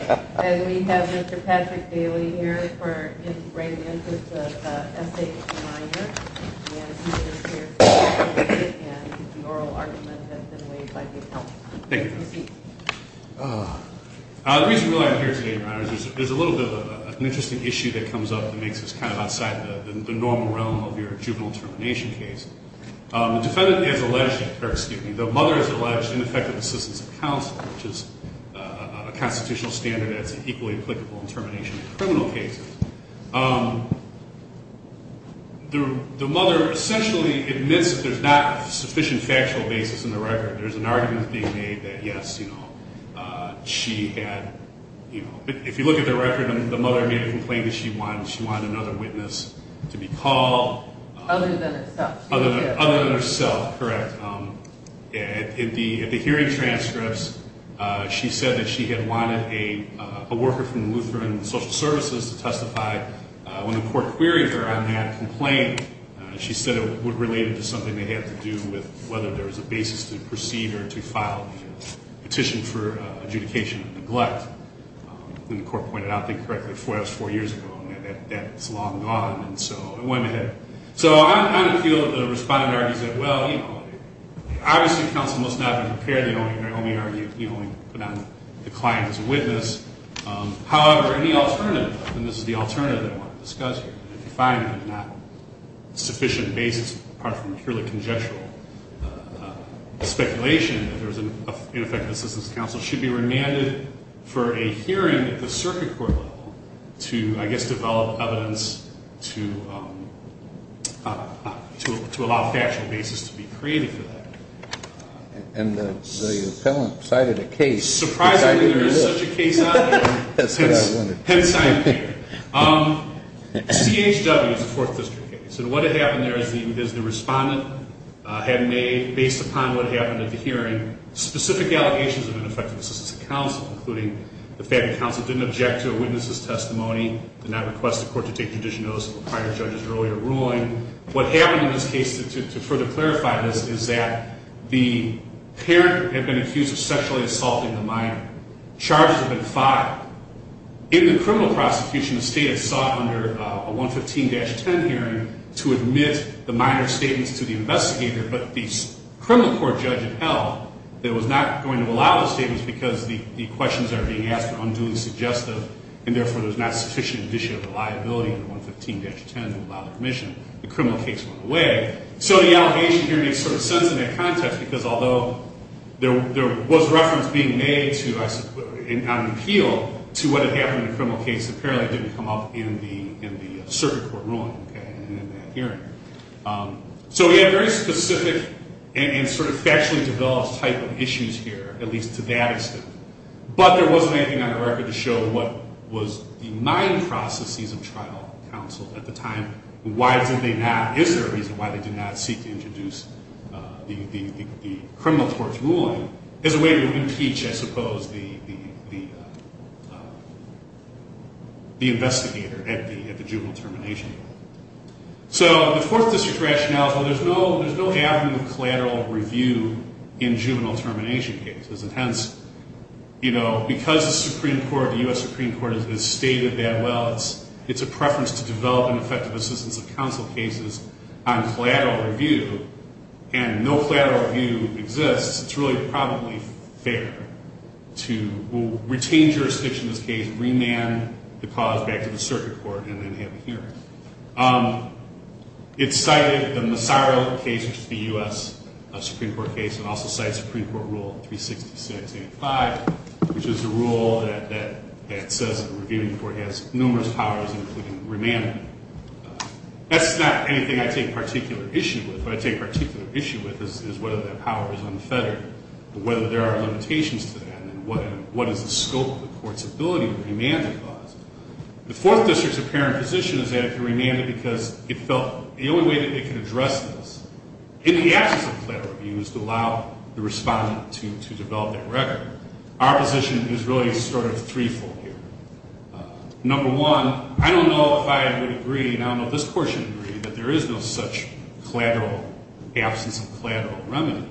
Minor, and he is here to talk about it, and the oral argument that's been raised by his help. Thank you. The reason why I'm here today, Your Honors, is there's a little bit of an interesting issue that comes up that makes us kind of outside the normal realm of your juvenile termination case. The defendant is alleged, or excuse me, the mother is alleged ineffective assistance of a constitutional standard that's equally applicable in termination of criminal cases. The mother essentially admits that there's not sufficient factual basis in the record. There's an argument being made that, yes, you know, she had, you know, if you look at the record, the mother made a complaint that she wanted another witness to be called. Other than herself. Other than herself, correct. In the hearing transcripts, she said that she had wanted a worker from Lutheran Social Services to testify. When the court queried her on that complaint, she said it related to something that had to do with whether there was a basis to proceed or to file a petition for adjudication of neglect. And the court pointed out, I think correctly, that was four years ago, and that's long gone, and so it went ahead. So I kind of feel the respondent argues that, well, you know, obviously counsel must not have been prepared. They only argued, you know, put on the client as a witness. However, any alternative, and this is the alternative that I want to discuss here, that the defendant had not sufficient basis, apart from purely conjectural speculation that there was an ineffective assistance of counsel, should be remanded for a hearing at the circuit court level to, I guess, develop evidence to allow factual basis to be created for that. And the appellant cited a case. Surprisingly, there is such a case out there. Hence, I am here. CHW is a Fourth District case, and what had happened there is the respondent had made, based upon what happened at the hearing, specific allegations of ineffective assistance of counsel, including the fact that counsel didn't object to a witness's testimony, did not request the court to take judicial notice of a prior judge's earlier ruling. What happened in this case, to further clarify this, is that the parent had been accused of sexually assaulting the minor. Charges had been filed. In the criminal prosecution, the state had sought under a 115-10 hearing to admit the minor statements to the investigator, but the criminal court judge had held that it was not going to allow the statements because the questions that were being asked were unduly suggestive, and therefore, there was not sufficient judicial reliability under 115-10 to allow the permission. The criminal case went away. So the allegation here makes sort of sense in that context, because although there was reference being made on appeal to what had happened in the criminal case, apparently So we have very specific and sort of factually developed type of issues here, at least to that extent. But there wasn't anything on the record to show what was the mind processes of trial counsel at the time, and why did they not, is there a reason why they did not seek to introduce the criminal court's ruling as a way to impeach, I suppose, the investigator at the juvenile termination hearing. So the Fourth District rationale, so there's no avenue of collateral review in juvenile termination cases, and hence, you know, because the Supreme Court, the U.S. Supreme Court has stated that well, it's a preference to develop an effective assistance of counsel cases on collateral review, and no collateral review exists, it's really probably fair to retain jurisdiction in this case, remand the cause back to the circuit court, and then have a hearing. It cited the Massaro case, which is the U.S. Supreme Court case, and also cites Supreme Court Rule 366.85, which is the rule that says the reviewing court has numerous powers including remand. That's not anything I take particular issue with. What I take particular issue with is whether that power is unfettered, whether there are limitations to that, and what is the scope of the court's ability to remand the cause. The Fourth District's apparent position is that it can remand it because it felt the only way that it can address this in the absence of collateral review is to allow the respondent to develop that record. Our position is really sort of threefold here. Number one, I don't know if I would agree, and I don't know if this Court should agree, that there is no such collateral, absence of collateral remedy.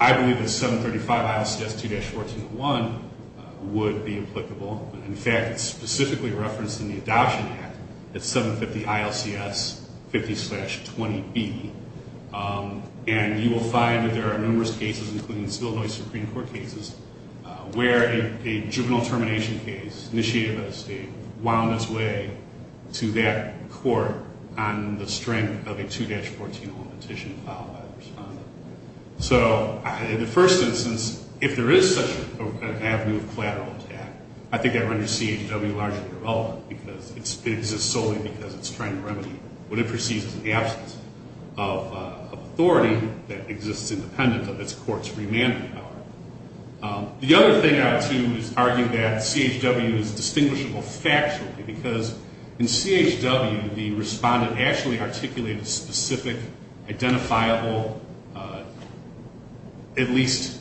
I believe that 735 Isle Stats 2-1401 would be applicable. In fact, it's specifically referenced in the Adoption Act at 750 ILCS 50-20B, and you will find that there are numerous cases, including the Seville, Illinois Supreme Court cases, where a juvenile termination case initiated by the state wound its way to that court on the strength of a 2-1401 petition filed by the respondent. So, in the first instance, if there is such an avenue of collateral attack, I think that renders CHW largely irrelevant because it exists solely because it's trying to remedy what it perceives in the absence of authority that exists independent of its court's remand power. The other thing I would argue is that CHW is distinguishable factually because in CHW the respondent actually articulated specific, identifiable, at least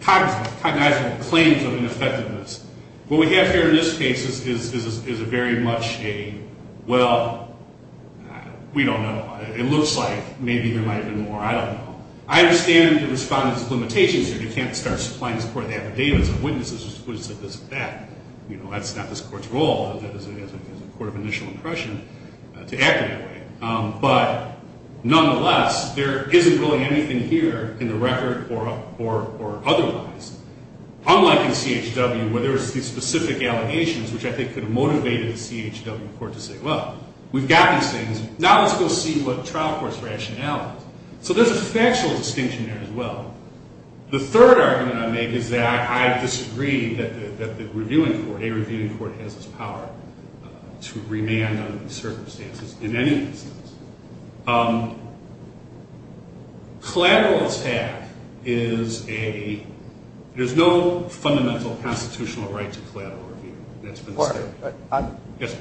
cognizable claims of ineffectiveness. What we have here in this case is very much a, well, we don't know. It looks like maybe there might have been more. I don't know. I understand the respondent's limitations here. You can't start supplying this Court with affidavits of witnesses who said this or that. You know, that's not this Court's role. That is a court of initial impression to act that way. But, nonetheless, there isn't really anything here in the record or otherwise. Unlike in CHW, where there's these specific allegations, which I think could have motivated the CHW court to say, well, we've got these things. Now let's go see what trial court's rationale is. So there's a factual distinction there as well. The third argument I make is that I disagree that the reviewing court, a reviewing court, has this power to remand under these circumstances in any instance. Collateral attack is a, there's no fundamental constitutional right to collateral review. That's been stated. Yes, sir.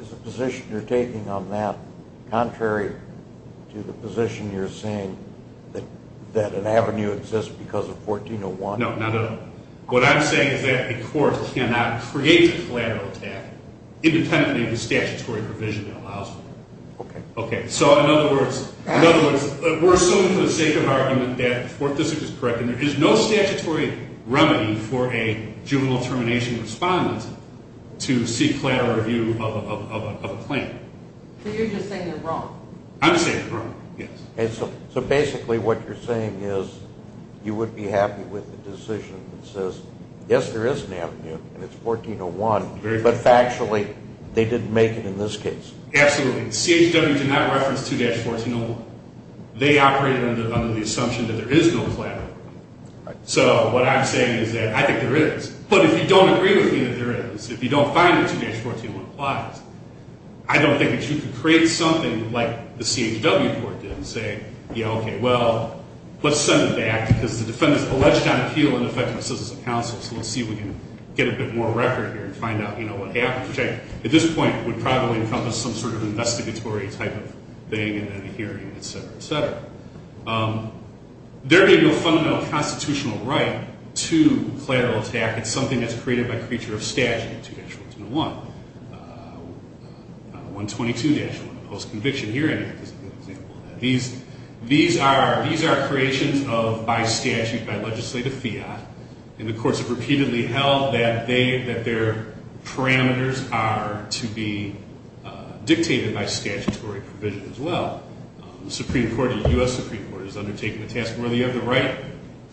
Is the position you're taking on that contrary to the position you're saying that an avenue exists because of 1401? No, not at all. What I'm saying is that a court cannot create a collateral attack independently of the statutory provision that allows it. Okay. So, in other words, we're assuming for the sake of argument that, and there is no statutory remedy for a juvenile termination respondent to seek collateral review of a claim. So you're just saying they're wrong. I'm saying they're wrong, yes. So basically what you're saying is you would be happy with a decision that says, yes, there is an avenue, and it's 1401, but factually they didn't make it in this case. Absolutely. CHW did not reference 2-1401. They operated under the assumption that there is no collateral. Right. So what I'm saying is that I think there is. But if you don't agree with me that there is, if you don't find that 2-1401 applies, I don't think that you can create something like the CHW court did and say, yeah, okay, well, let's send it back, because the defendant's alleged on appeal and effective assistance of counsel, so let's see if we can get a bit more record here and find out, you know, what happened, which at this point would probably encompass some sort of investigatory type of thing in the hearing, et cetera, et cetera. There being no fundamental constitutional right to collateral attack, it's something that's created by creature of statute, 2-121, 122-1, post-conviction hearing. These are creations of by statute, by legislative fiat, and the courts have repeatedly held that their parameters are to be dictated by statutory provision as well. The Supreme Court, the U.S. Supreme Court, has undertaken the task, well, do you have the right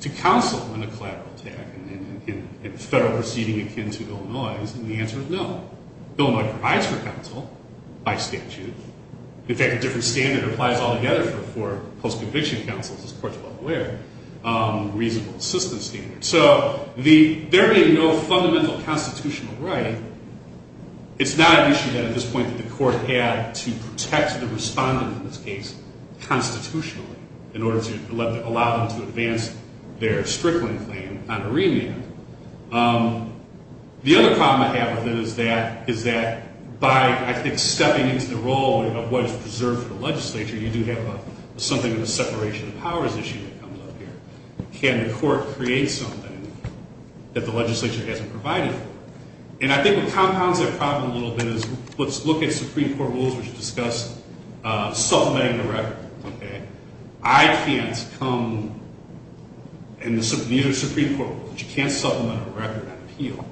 to counsel in a collateral attack in federal proceeding akin to Illinois? And the answer is no. Illinois provides for counsel by statute. In fact, a different standard applies altogether for post-conviction counsels, as the court is well aware, reasonable assistance standard. So there being no fundamental constitutional right, it's not an issue that at this point the court had to protect the respondent in this case constitutionally in order to allow them to advance their Strickland claim on a remand. The other problem I have with it is that by, I think, you do have something of a separation of powers issue that comes up here. Can the court create something that the legislature hasn't provided for? And I think what compounds that problem a little bit is let's look at Supreme Court rules, which discuss supplementing the record, okay? I can't come, and these are Supreme Court rules, but you can't supplement a record on appeal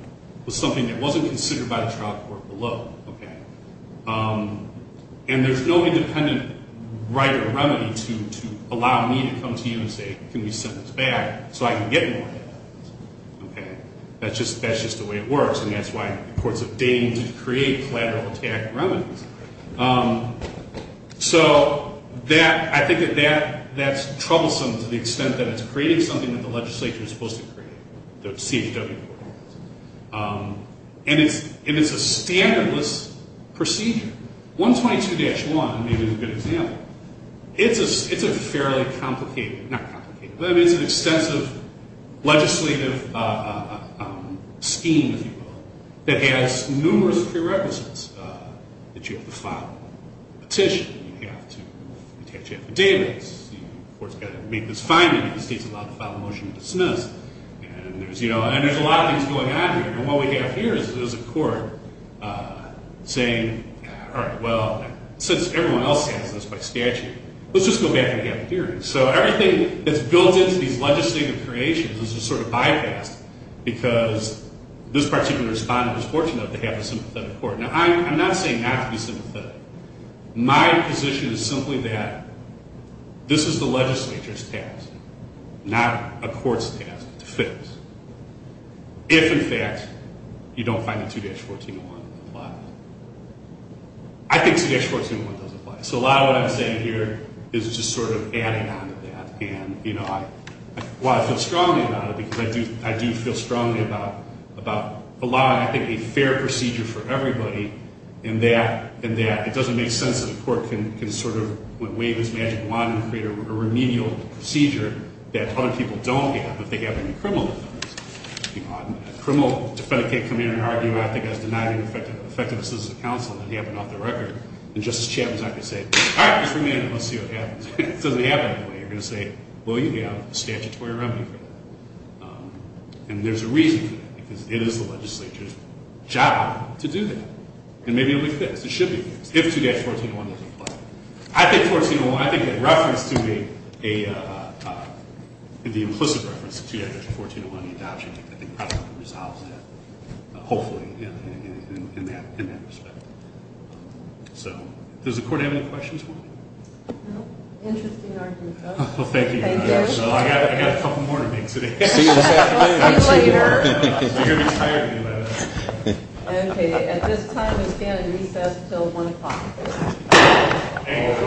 with something that wasn't considered by the trial court below, okay? And there's no independent right or remedy to allow me to come to you and say, can we send this back so I can get more evidence, okay? That's just the way it works, and that's why courts have deigned to create collateral attack remedies. So I think that that's troublesome to the extent that it's creating something that the legislature is supposed to create, the CHW court, and it's a standardless procedure. 122-1 may be a good example. It's a fairly complicated, not complicated, but it's an extensive legislative scheme, if you will, that has numerous prerequisites that you have to file a petition, you have to attach affidavits, the court's got to make this finding if the state's allowed to file a motion to dismiss, and there's a lot of things going on here, and what we have here is a court saying, all right, well, since everyone else has this by statute, let's just go back and get it here. So everything that's built into these legislative creations is just sort of bypassed because this particular respondent was fortunate enough to have a sympathetic court. Now, I'm not saying not to be sympathetic. My position is simply that this is the legislature's task, not a court's task, to fix. If, in fact, you don't find that 2-14-1 applies. I think 2-14-1 does apply. So a lot of what I'm saying here is just sort of adding on to that, and, you know, while I feel strongly about it because I do feel strongly about allowing, I think, a fair procedure for everybody and that it doesn't make sense that a court can sort of, when wave his magic wand and create a remedial procedure that other people don't have if they have any criminal defendants. A criminal defendant can't come in and argue, I think, as denying effectiveness as a counsel and have it off the record, and Justice Chapman's not going to say, all right, just bring me in and let's see what happens. It doesn't happen that way. You're going to say, well, you have a statutory remedy for that, and there's a reason for that because it is the legislature's job to do that, and maybe it will be fixed. It should be fixed if 2-14-1 doesn't apply. I think 2-14-1, I think that reference to the implicit reference to 2-14-1, the adoption, I think probably resolves that, hopefully, in that respect. So does the court have any questions for me? No. Interesting argument, though. Well, thank you. Thank you. I got a couple more to make today. See you this afternoon. I appreciate it. You're going to be tired of me by then. Okay. At this time, we stand in recess until 1 o'clock. Thank you.